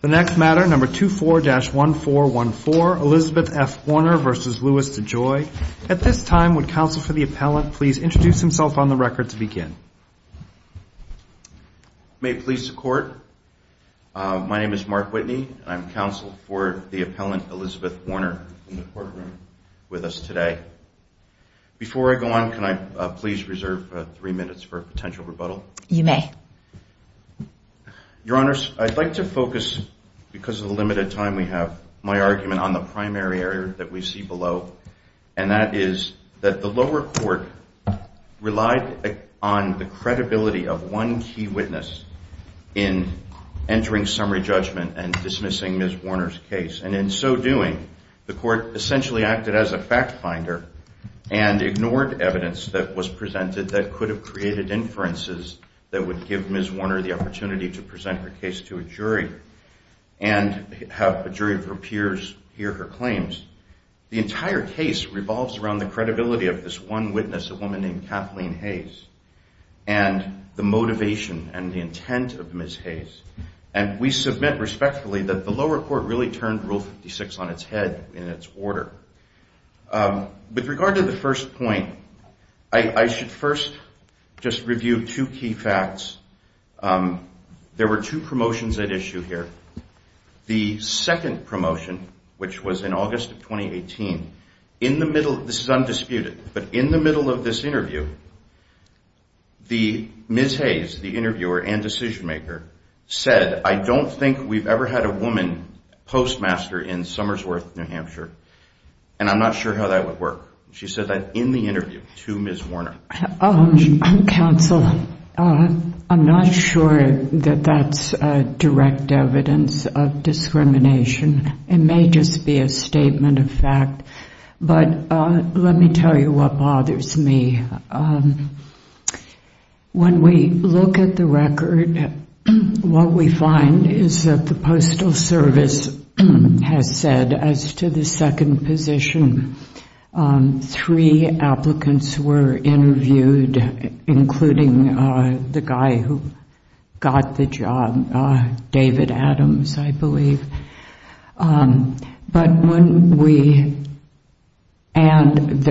The next matter, number 24-1414, Elizabeth F. Warner v. Louis DeJoy. At this time, would counsel for the appellant please introduce himself on the record to begin? May it please the Court, my name is Mark Whitney. I'm counsel for the appellant Elizabeth Warner in the courtroom with us today. Before I go on, can I please reserve three minutes for a potential rebuttal? You may. Your Honors, I'd like to focus, because of the limited time we have, my argument on the primary area that we see below, and that is that the lower court relied on the credibility of one key witness in entering summary judgment and dismissing Ms. Warner's case. And in so doing, the court essentially acted as a fact finder and ignored evidence that was presented that could have created inferences that would give Ms. Warner the opportunity to present her case to a jury and have a jury of her peers hear her claims. The entire case revolves around the credibility of this one witness, a woman named Kathleen Hayes, and the motivation and the intent of Ms. Hayes. And we submit respectfully that the lower court really turned Rule 56 on its head in its order. With regard to the first point, I should first just review two key facts. There were two promotions at issue here. The second promotion, which was in August of 2018, in the middle, this is undisputed, but in the middle of this interview, Ms. Hayes, the interviewer and decision maker, said, I don't think we've ever had a woman postmaster in Summersworth, New Hampshire. And I'm not sure how that would work. She said that in the interview to Ms. Warner. Counsel, I'm not sure that that's direct evidence of discrimination. It may just be a statement of fact. But let me tell you what bothers me. When we look at the record, what we find is that the Postal Service has said, as to the second position, three applicants were interviewed, including the guy who got the job, David Adams, I believe. But when we, and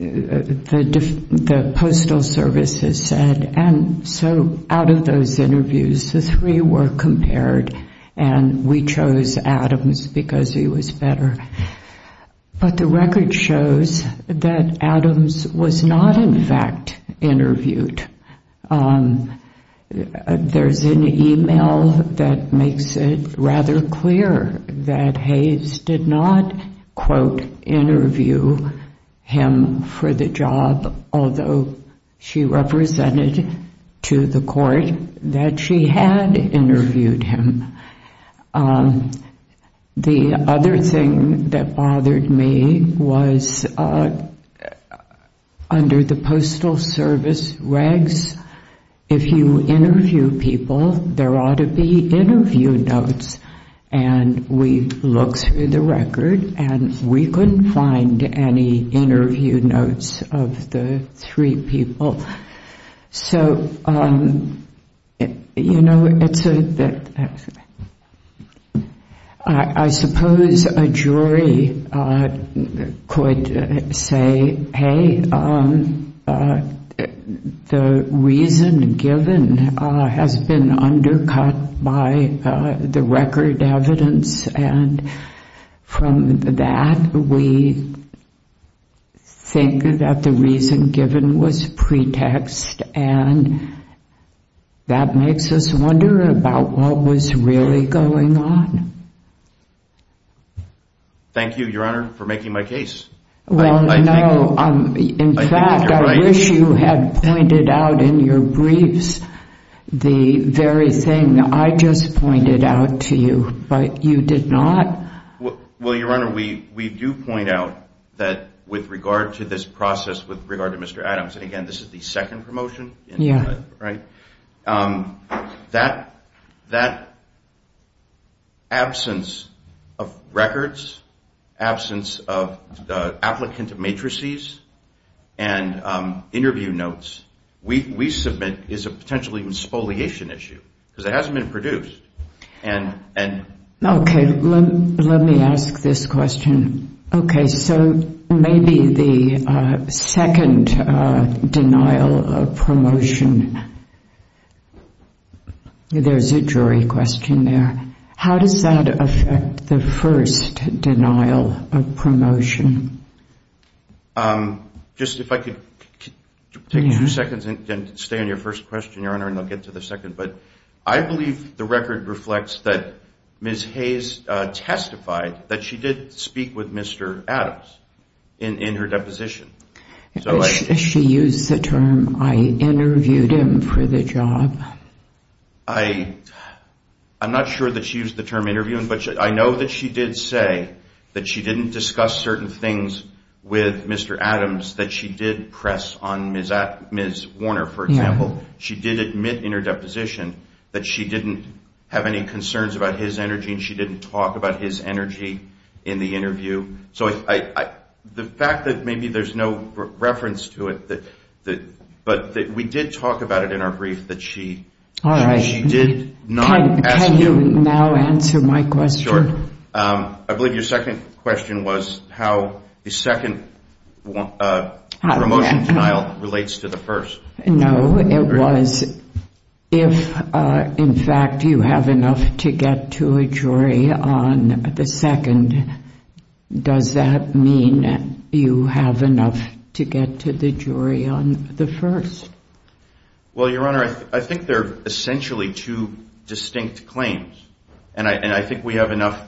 the Postal Service has said, and so out of those interviews, the three were compared, and we chose Adams because he was better. But the record shows that Adams was not, in fact, interviewed. There's an email that makes it rather clear that Hayes did not, quote, interview him for the job, although she represented to the court that she had interviewed him. The other thing that bothered me was under the Postal Service regs, if you interview people, there ought to be interview notes. And we looked through the record, and we couldn't find any interview notes of the three people. So, you know, I suppose a jury could say, hey, the reason given has been undercut by the record evidence, and from that, we think that the reason given was pretext, and that makes us wonder about what was really going on. Thank you, Your Honor, for making my case. Well, no, in fact, I wish you had pointed out in your briefs the very thing I just pointed out to you, but you did not. Well, Your Honor, we do point out that with regard to this process, with regard to Mr. Adams, and again, this is the second promotion, right, that absence of records, absence of the applicant matrices and interview notes we submit is a potentially spoliation issue because it hasn't been produced. Okay, let me ask this question. Okay, so maybe the second denial of promotion, there's a jury question there. How does that affect the first denial of promotion? Just if I could take two seconds and stay on your first question, Your Honor, and I'll get to the second. But I believe the record reflects that Ms. Hayes testified that she did speak with Mr. Adams in her deposition. She used the term, I interviewed him for the job. I'm not sure that she used the term interviewing, but I know that she did say that she didn't discuss certain things with Mr. Adams that she did press on Ms. Warner, for example. She did admit in her deposition that she didn't have any concerns about his energy and she didn't talk about his energy in the interview. So the fact that maybe there's no reference to it, but we did talk about it in our brief that she did not ask you. Can you now answer my question? I believe your second question was how the second promotion denial relates to the first. No, it was if, in fact, you have enough to get to a jury on the second, does that mean you have enough to get to the jury on the first? Well, Your Honor, I think they're essentially two distinct claims. And I think we have enough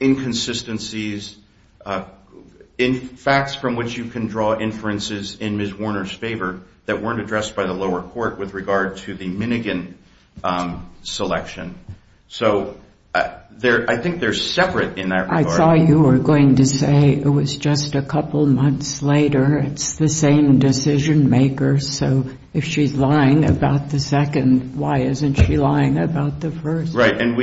inconsistencies in facts from which you can draw inferences in Ms. Warner's favor that weren't addressed by the lower court with regard to the Minigan selection. So I think they're separate in that regard. I thought you were going to say it was just a couple months later. It's the same decision maker. So if she's lying about the second, why isn't she lying about the first? Right. And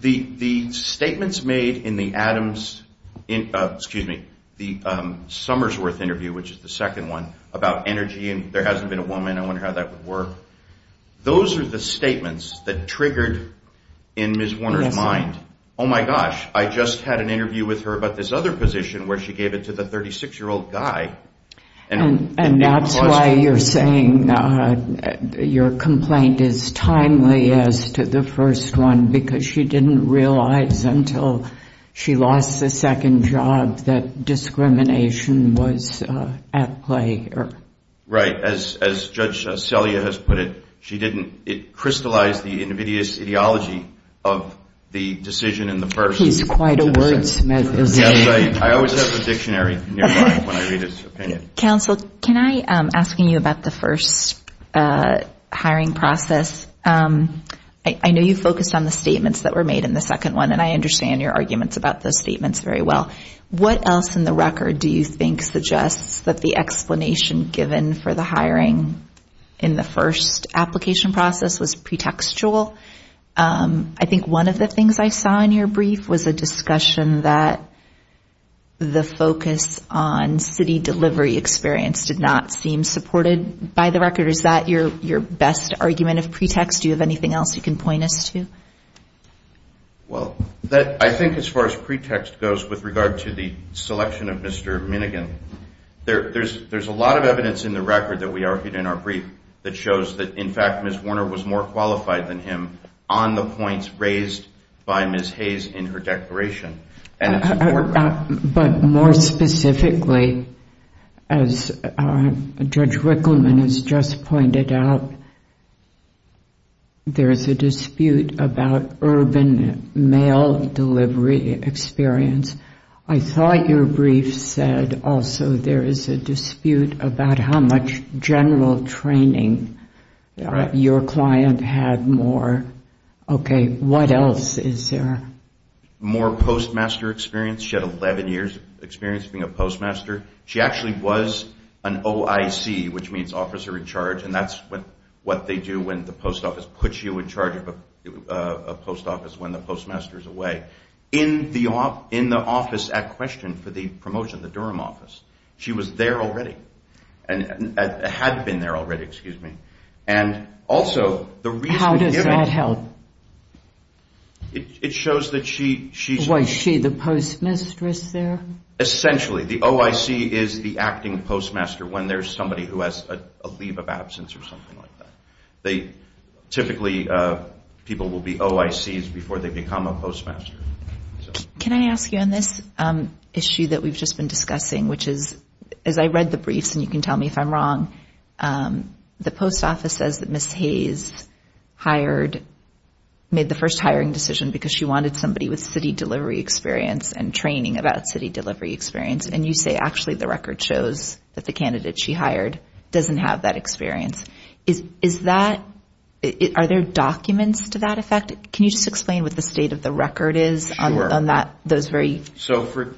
the statements made in the Adams, excuse me, the Summersworth interview, which is the second one, about energy and there hasn't been a woman, I wonder how that would work. Those are the statements that triggered in Ms. Warner's mind, oh, my gosh, I just had an interview with her about this other position where she gave it to the 36-year-old guy. And that's why you're saying your complaint is timely as to the first one, because she didn't realize until she lost the second job that discrimination was at play here. Right. As Judge Selya has put it, she didn't. It crystallized the invidious ideology of the decision in the first. He's quite a wordsmith, isn't he? I always have a dictionary nearby when I read his opinion. Counsel, can I, asking you about the first hiring process, I know you focused on the statements that were made in the second one, and I understand your arguments about those statements very well. What else in the record do you think suggests that the explanation given for the hiring in the first application process was pretextual? I think one of the things I saw in your brief was a discussion that the focus on city delivery experience did not seem supported by the record. Is that your best argument of pretext? Do you have anything else you can point us to? Well, I think as far as pretext goes with regard to the selection of Mr. Minigan, there's a lot of evidence in the record that we argued in our brief that shows that, in fact, Ms. Warner was more qualified than him on the points raised by Ms. Hayes in her declaration. But more specifically, as Judge Rickleman has just pointed out, there is a dispute about urban mail delivery experience. I thought your brief said also there is a dispute about how much general training your client had more. Okay, what else is there? She had 11 more postmaster experience. She had 11 years' experience being a postmaster. She actually was an OIC, which means officer in charge, and that's what they do when the post office puts you in charge of a post office when the postmaster is away. In the office at question for the promotion, the Durham office, she was there already and had been there already. How does that help? Was she the postmistress there? The OIC is the acting postmaster when there's somebody who has a leave of absence or something like that. Typically, people will be OICs before they become a postmaster. Can I ask you on this issue that we've just been discussing, which is, as I read the briefs, and you can tell me if I'm wrong, the post office says that Ms. Hayes made the first hiring decision because she wanted somebody with city delivery experience and training about city delivery experience, and you say actually the record shows that the candidate she hired doesn't have that experience. Are there documents to that effect? Can you just explain what the state of the record is on those very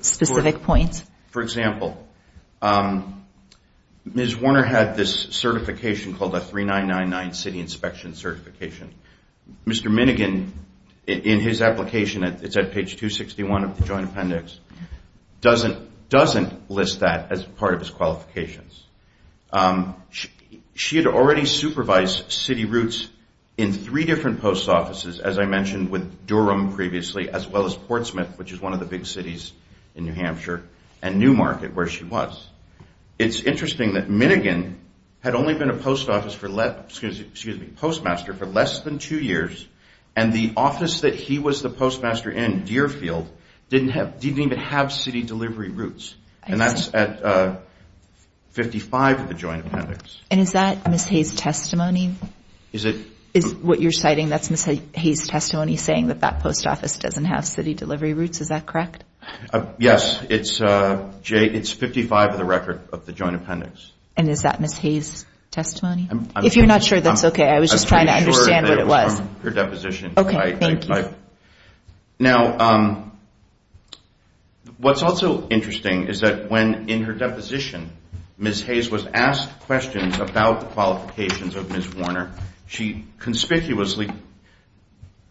specific points? For example, Ms. Warner had this certification called the 3999 City Inspection Certification. Mr. Minigan, in his application, it's at page 261 of the Joint Appendix, doesn't list that as part of his qualifications. She had already supervised city routes in three different post offices, as I mentioned with Durham previously, as well as Portsmouth, which is one of the big cities in New Hampshire, and Newmarket, where she was. It's interesting that Minigan had only been a postmaster for less than two years, and the office that he was the postmaster in, Deerfield, didn't even have city delivery routes. And that's at 55 of the Joint Appendix. And is that Ms. Hayes' testimony? Is what you're citing, that's Ms. Hayes' testimony, saying that that post office doesn't have city delivery routes, is that correct? Yes, it's 55 of the record of the Joint Appendix. And is that Ms. Hayes' testimony? If you're not sure, that's okay. I was just trying to understand what it was. I'm pretty sure they were from her deposition. Now, what's also interesting is that when, in her deposition, Ms. Hayes was asked questions about the qualifications of Ms. Warner, she conspicuously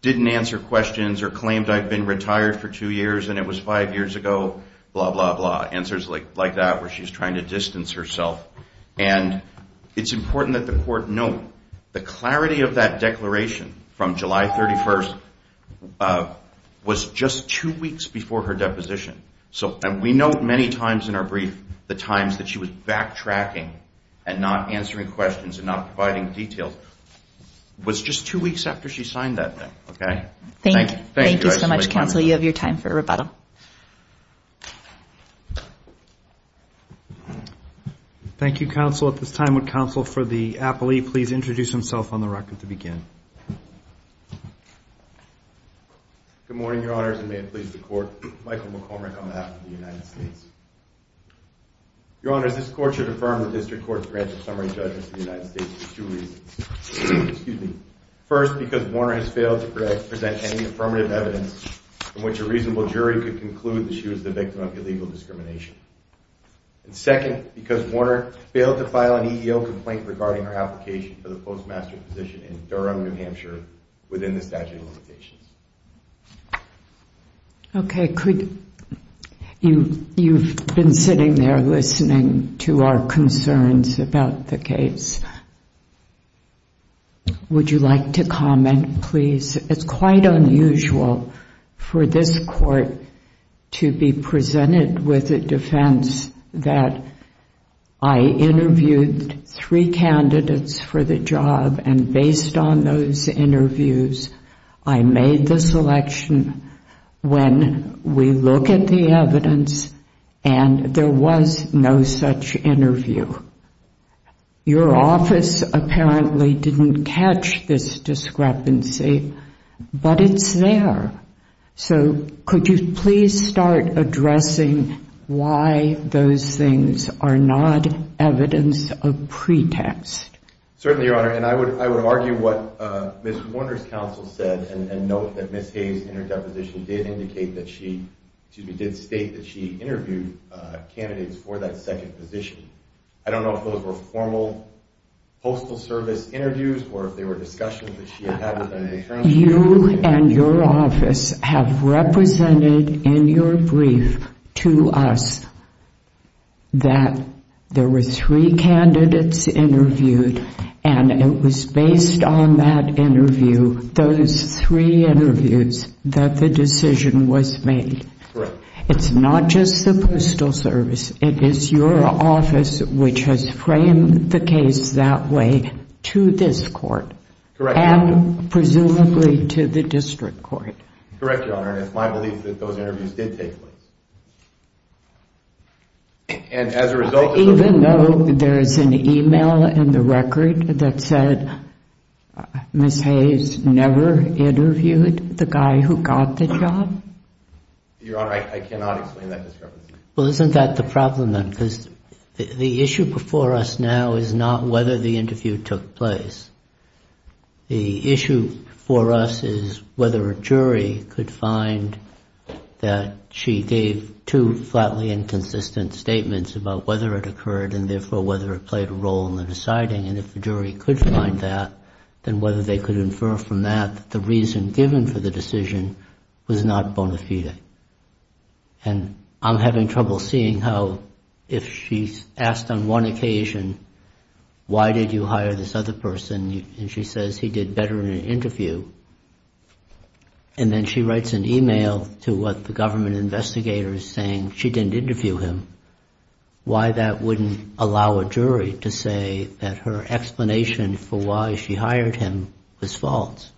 didn't answer questions or claimed, I've been retired for two years and it was five years ago, blah, blah, blah. Answers like that, where she's trying to distance herself. And it's important that the court note the clarity of that declaration from July 31st was just two weeks before her deposition. We note many times in our brief the times that she was backtracking and not answering questions and not providing details. It was just two weeks after she signed that thing. Thank you so much, counsel. You have your time for rebuttal. Thank you, counsel. At this time, would counsel for the appellee please introduce himself on the record to begin? Good morning, Your Honors, and may it please the Court. Michael McCormick on behalf of the United States. Your Honors, this Court should affirm the District Court's grant of summary judgment to the United States for two reasons. First, because Warner has failed to present any affirmative evidence from which a reasonable jury could conclude that she was the victim of illegal discrimination. And second, because Warner failed to file an EEO complaint regarding her application for the postmaster position in Durham, New Hampshire within the statute of limitations. You've been sitting there listening to our concerns about the case. Would you like to comment, please? It's quite unusual for this Court to be presented with a defense that I interviewed three candidates for the job and based on those interviews I made the selection when we look at the evidence and there was no such interview. Your office apparently didn't catch this discrepancy, but it's there. So could you please start addressing why those things are not evidence of pretext? Certainly, Your Honor. And I would argue what Ms. Warner's counsel said and note that Ms. Hayes in her deposition did indicate that she, excuse me, did state that she interviewed candidates for that second position. I don't know if those were formal postal service interviews or if they were discussions that she had had with an attorney. You and your office have represented in your brief to us that there were three candidates interviewed and it was based on that interview, those three interviews, that the decision was made. Correct. It's not just the postal service. It is your office which has framed the case that way to this Court. Correct, Your Honor. And presumably to the district court. Correct, Your Honor. And it's my belief that those interviews did take place. Even though there is an email in the record that said Ms. Hayes never interviewed the guy who got the job? Your Honor, I cannot explain that discrepancy. Well, isn't that the problem then? Because the issue before us now is not whether the interview took place. The issue for us is whether a jury could find that she gave two flatly inconsistent statements about whether it occurred and therefore whether it played a role in the deciding. And if a jury could find that, then whether they could infer from that that the reason given for the decision was not bona fide. And I'm having trouble seeing how if she's asked on one occasion, why did you hire this other person? And she says he did better in an interview. And then she writes an email to what the government investigator is saying she didn't interview him. Why that wouldn't allow a jury to say that her explanation for why she hired him was false?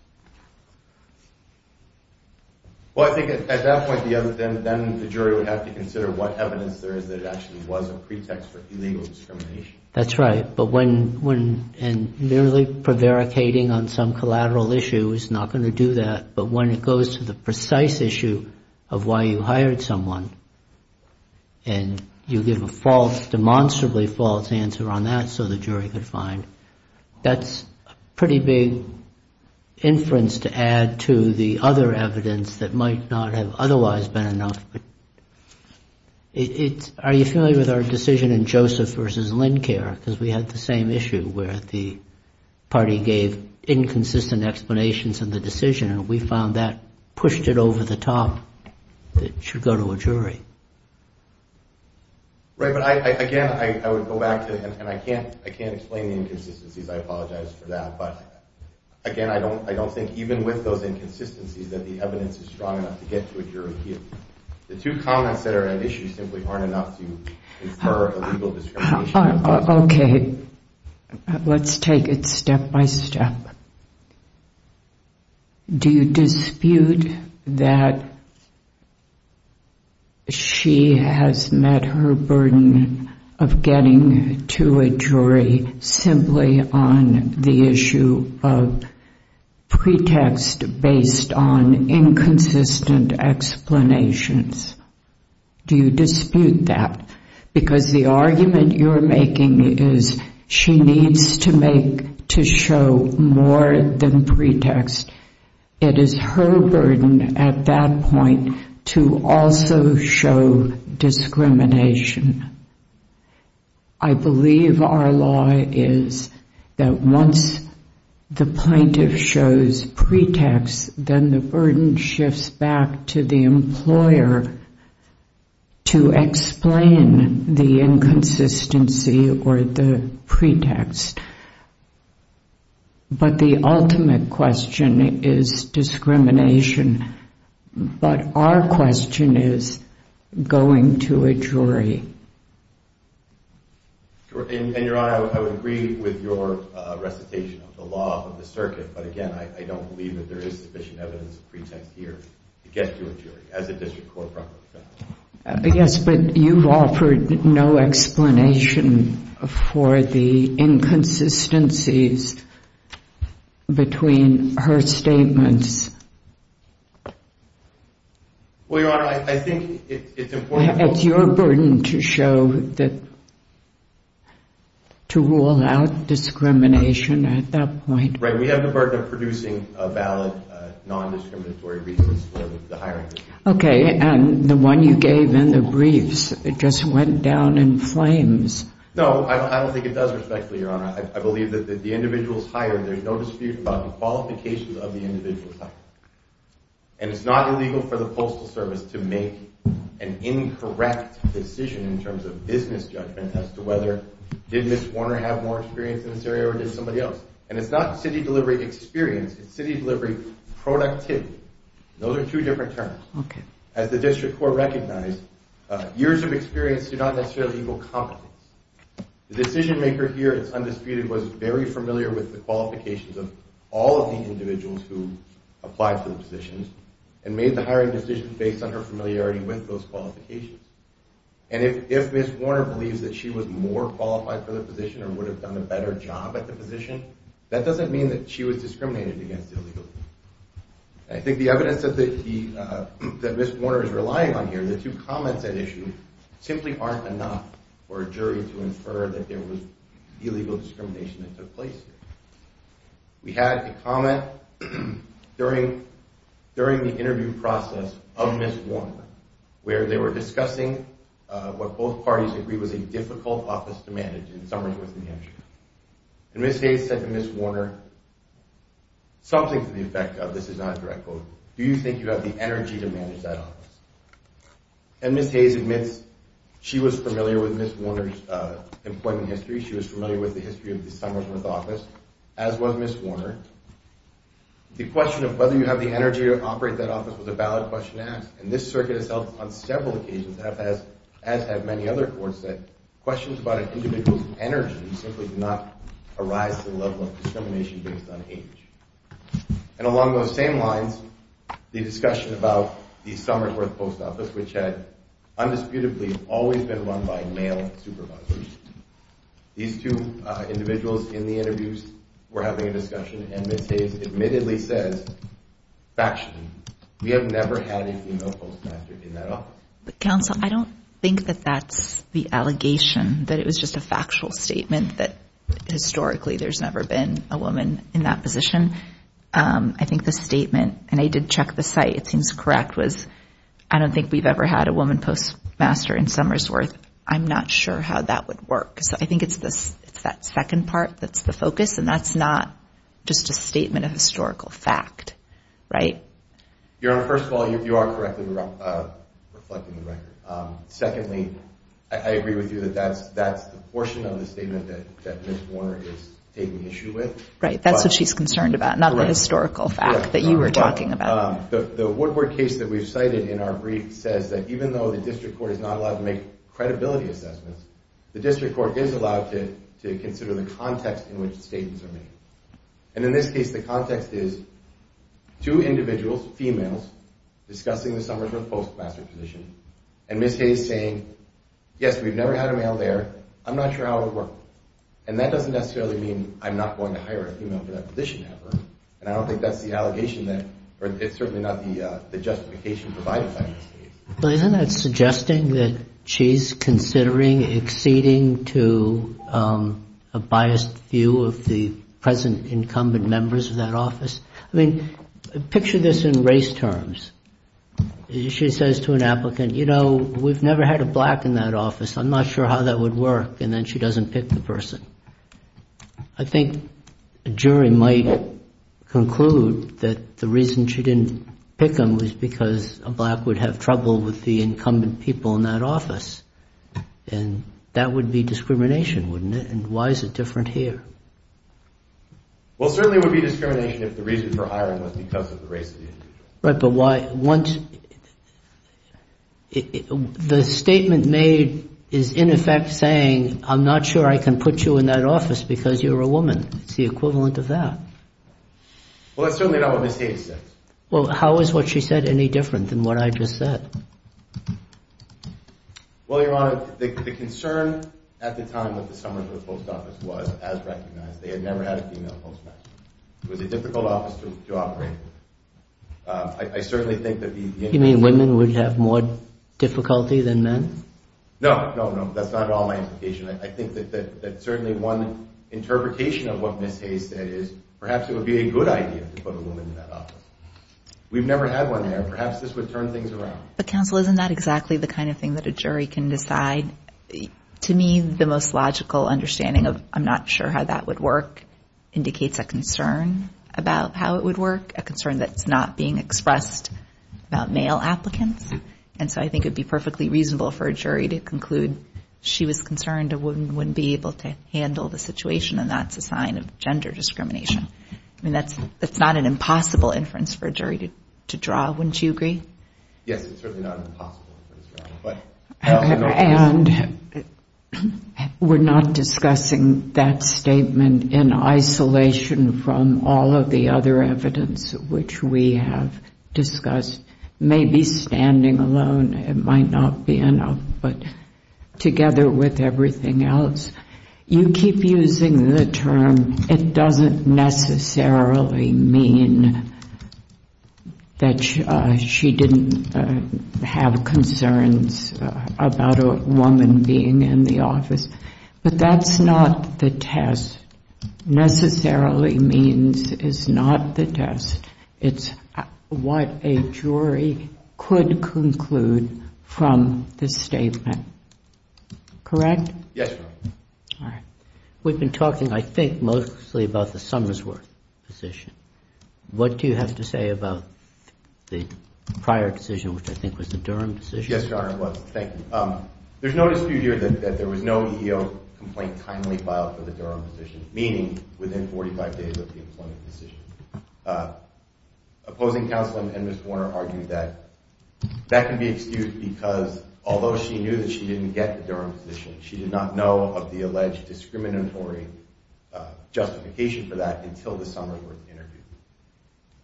Well, I think at that point, then the jury would have to consider what evidence there is that it actually was a pretext for illegal discrimination. That's right. And merely prevaricating on some collateral issue is not going to do that. But when it goes to the precise issue of why you hired someone and you give a false, demonstrably false answer on that so the jury could find, that's a pretty big inference to add to the other evidence that might not have otherwise been enough. Are you familiar with our decision in Joseph versus Lincare? Because we had the same issue where the party gave inconsistent explanations in the decision and we found that pushed it over the top that it should go to a jury. Right, but again, I would go back to, and I can't explain the inconsistencies. I apologize for that. But again, I don't think even with those inconsistencies that the evidence is strong enough to get to a jury here. The two comments that are at issue simply aren't enough to infer illegal discrimination. Okay, let's take it step by step. Do you dispute that she has met her burden of getting to a jury simply on the issue of pretext based on inconsistent explanations? Do you dispute that? Because the argument you're making is she needs to show more than pretext. It is her burden at that point to also show discrimination. I believe our law is that once the plaintiff shows pretext, then the burden shifts back to the employer to explain the inconsistency or the pretext. But the ultimate question is discrimination. But our question is going to a jury. And Your Honor, I would agree with your recitation of the law of the circuit. But again, I don't believe that there is sufficient evidence of pretext here to get to a jury as a district court proper. Yes, but you've offered no explanation for the inconsistencies between her statements. Well, Your Honor, I think it's important... It's your burden to show that, to rule out discrimination at that point. Right, we have the burden of producing a valid, non-discriminatory resource for the hiring. Okay, and the one you gave in the briefs, it just went down in flames. No, I don't think it does respectfully, Your Honor. I believe that the individuals hired, there's no dispute about the qualifications of the individuals hired. And it's not illegal for the Postal Service to make an incorrect decision in terms of business judgment as to whether, did Ms. Warner have more experience in this area or did somebody else? And it's not city delivery experience, it's city delivery productivity. Those are two different terms. As the district court recognized, years of experience do not necessarily equal competence. The decision-maker here, it's undisputed, was very familiar with the qualifications of all of the individuals who applied for the positions and made the hiring decision based on her familiarity with those qualifications. And if Ms. Warner believes that she was more qualified for the position or would have done a better job at the position, that doesn't mean that she was discriminated against illegally. I think the evidence that Ms. Warner is relying on here, the two comments at issue, simply aren't enough for a jury to infer that there was illegal discrimination that took place here. We had a comment during the interview process of Ms. Warner where they were discussing what both parties agree was a difficult office to manage in Summersworth, NH. And Ms. Gates said to Ms. Warner, something to the effect of, this is not a direct quote, do you think you have the energy to manage that office? And Ms. Gates admits she was familiar with Ms. Warner's employment history. She was familiar with the history of the Summersworth office, as was Ms. Warner. The question of whether you have the energy to operate that office was a valid question to ask. And this circuit has held on several occasions, as have many other courts, that questions about an individual's energy simply do not arise to the level of discrimination based on age. And along those same lines, the discussion about the Summersworth post office, which had undisputedly always been run by male supervisors, these two individuals in the interviews were having a discussion, and Ms. Gates admittedly says, factually, we have never had a female postmaster in that office. Counsel, I don't think that that's the allegation, that it was just a factual statement, that historically there's never been a woman in that position. I think the statement, and I did check the site, it seems correct, was I don't think we've ever had a woman postmaster in Summersworth. I'm not sure how that would work. So I think it's that second part that's the focus, and that's not just a statement of historical fact, right? Your Honor, first of all, you are correctly reflecting the record. Secondly, I agree with you that that's the portion of the statement that Ms. Warner is taking issue with. Right, that's what she's concerned about, not the historical fact that you were talking about. The Woodward case that we've cited in our brief says that even though the district court is not allowed to make credibility assessments, the district court is allowed to consider the context in which statements are made. And in this case, the context is two individuals, females, discussing the Summersworth postmaster position, and Ms. Hayes saying, yes, we've never had a male there, I'm not sure how it would work. And that doesn't necessarily mean I'm not going to hire a female for that position ever, and I don't think that's the allegation that, or it's certainly not the justification provided by Ms. Hayes. But isn't that suggesting that she's considering exceeding to a biased view of the present incumbent members of that office? I mean, picture this in race terms. She says to an applicant, you know, we've never had a black in that office, I'm not sure how that would work, and then she doesn't pick the person. I think a jury might conclude that the reason she didn't pick him was because a black would have trouble with the incumbent people in that office. And that would be discrimination, wouldn't it? And why is it different here? Well, certainly it would be discrimination if the reason for hiring was because of the race. Right, but once the statement made is in effect saying, I'm not sure I can put you in that office because you're a woman. It's the equivalent of that. Well, that's certainly not what Ms. Hayes said. Well, how is what she said any different than what I just said? Well, Your Honor, the concern at the time that the Summersville Post Office was, as recognized, they had never had a female postmaster. It was a difficult office to operate. I certainly think that the individuals... You mean women would have more difficulty than men? No, no, no, that's not at all my implication. I think that certainly one interpretation of what Ms. Hayes said is perhaps it would be a good idea to put a woman in that office. We've never had one there. Perhaps this would turn things around. But, counsel, isn't that exactly the kind of thing that a jury can decide? To me, the most logical understanding of I'm not sure how that would work indicates a concern about how it would work, a concern that's not being expressed about male applicants. And so I think it would be perfectly reasonable for a jury to conclude she was concerned a woman wouldn't be able to handle the situation, and that's a sign of gender discrimination. I mean, that's not an impossible inference for a jury to draw. Wouldn't you agree? Yes, it's certainly not an impossible inference, Your Honor. And we're not discussing that statement in isolation from all of the other evidence which we have discussed. Maybe standing alone might not be enough, but together with everything else. You keep using the term, it doesn't necessarily mean that she didn't have concerns about a woman being in the office. But that's not the test. Necessarily means is not the test. It's what a jury could conclude from this statement. Correct? Yes, Your Honor. All right. We've been talking, I think, mostly about the Summersworth decision. What do you have to say about the prior decision, which I think was the Durham decision? Yes, Your Honor, it was. Thank you. There's no dispute here that there was no EEO complaint timely filed for the Durham decision, meaning within 45 days of the employment decision. Opposing counsel and Ms. Warner argued that that can be excused because although she knew that she didn't get the Durham decision, she did not know of the alleged discriminatory justification for that until the Summersworth interview.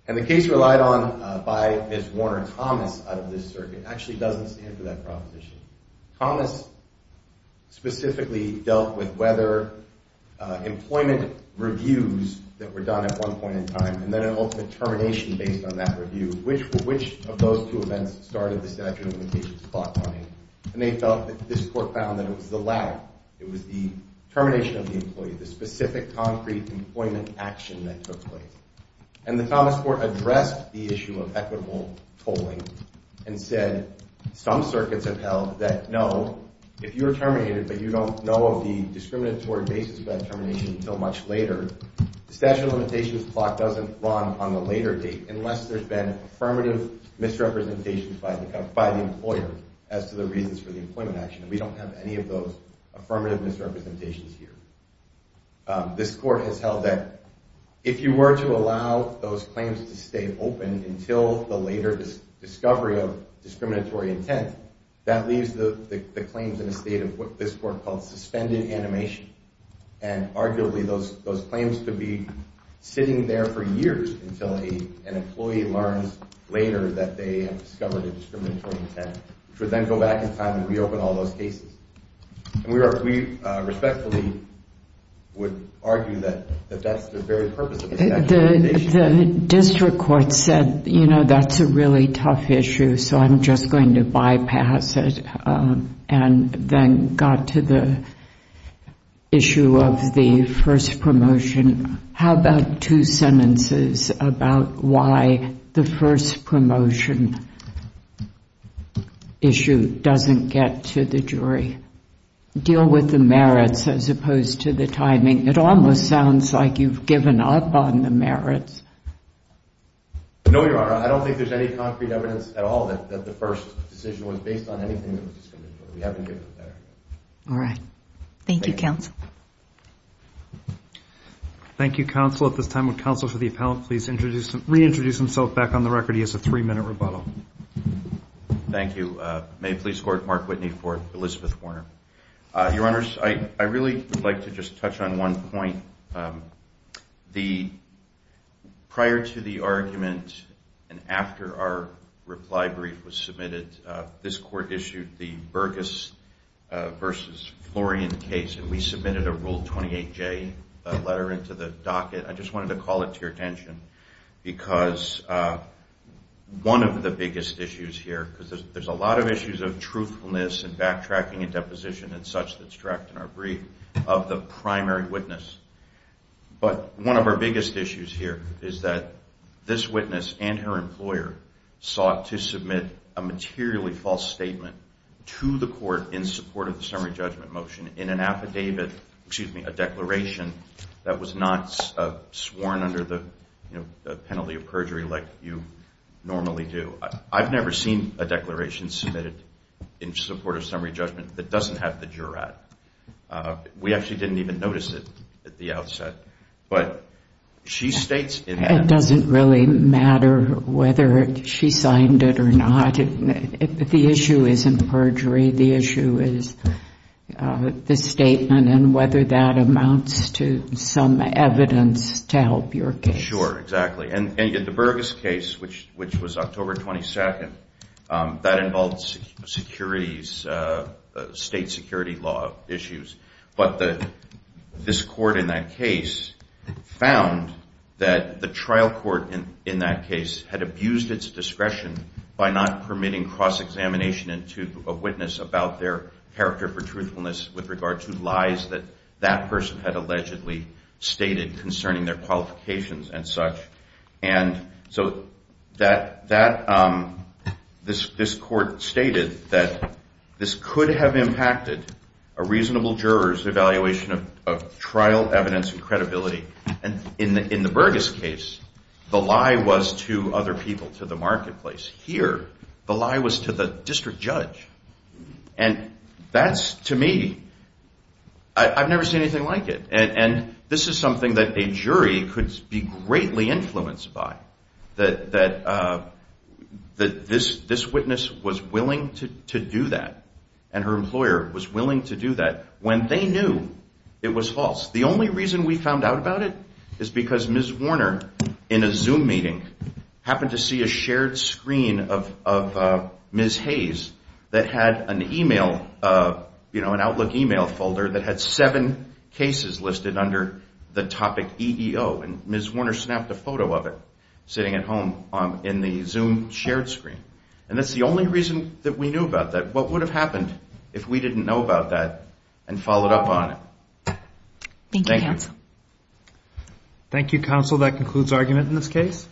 And the case relied on by Ms. Warner-Thomas out of this circuit actually doesn't stand for that proposition. Thomas specifically dealt with whether employment reviews that were done at one point in time and then an ultimate termination based on that review, which of those two events started the statute of limitations block money. And they felt that this court found that it was the latter. It was the termination of the employee, the specific concrete employment action that took place. And the Thomas court addressed the issue of equitable tolling and said some circuits have held that no, if you are terminated but you don't know of the discriminatory basis of that termination until much later, the statute of limitations block doesn't run on the later date unless there's been affirmative misrepresentation by the employer as to the reasons for the employment action. And we don't have any of those affirmative misrepresentations here. This court has held that if you were to allow those claims to stay open until the later discovery of discriminatory intent, that leaves the claims in a state of what this court called suspended animation. And arguably those claims could be sitting there for years until an employee learns later that they have discovered a discriminatory intent which would then go back in time and reopen all those cases. And we respectfully would argue that that's the very purpose of the statute of limitations. The district court said, you know, that's a really tough issue, so I'm just going to bypass it and then got to the issue of the first promotion. How about two sentences about why the first promotion issue doesn't get to the jury? Deal with the merits as opposed to the timing. It almost sounds like you've given up on the merits. No, Your Honor. I don't think there's any concrete evidence at all that the first decision was based on anything that was discriminatory. We haven't given it that. All right. Thank you, counsel. Thank you, counsel. At this time, would counsel for the appellant please reintroduce himself back on the record? He has a three-minute rebuttal. Thank you. May the police court mark Whitney for Elizabeth Warner. Your Honors, I really would like to just touch on one point. Prior to the argument and after our reply brief was submitted, this court issued the Burgess v. Florian case, and we submitted a Rule 28J letter into the docket. I just wanted to call it to your attention because one of the biggest issues here, because there's a lot of issues of truthfulness and backtracking and deposition and such that's tracked in our brief, of the primary witness. But one of our biggest issues here is that this witness and her employer sought to submit a materially false statement to the court in support of the summary judgment motion in an affidavit, excuse me, a declaration that was not sworn under the penalty of perjury like you normally do. I've never seen a declaration submitted in support of summary judgment that doesn't have the jurat. We actually didn't even notice it at the outset. It doesn't really matter whether she signed it or not. The issue isn't perjury. The issue is the statement and whether that amounts to some evidence to help your case. Sure, exactly. In the Burgess case, which was October 22nd, that involved state security law issues. But this court in that case found that the trial court in that case had abused its discretion by not permitting cross-examination into a witness about their character for truthfulness with regard to lies that that person had allegedly stated concerning their qualifications and such. So this court stated that this could have impacted a reasonable juror's evaluation of trial evidence and credibility. In the Burgess case, the lie was to other people, to the marketplace. Here, the lie was to the district judge. And that's, to me, I've never seen anything like it. And this is something that a jury could be greatly influenced by, that this witness was willing to do that and her employer was willing to do that when they knew it was false. The only reason we found out about it is because Ms. Warner, in a Zoom meeting, happened to see a shared screen of Ms. Hayes that had an Outlook email folder that had seven cases listed under the topic EEO. And Ms. Warner snapped a photo of it sitting at home in the Zoom shared screen. And that's the only reason that we knew about that. What would have happened if we didn't know about that and followed up on it? Thank you, counsel. Thank you, counsel. That concludes argument in this case.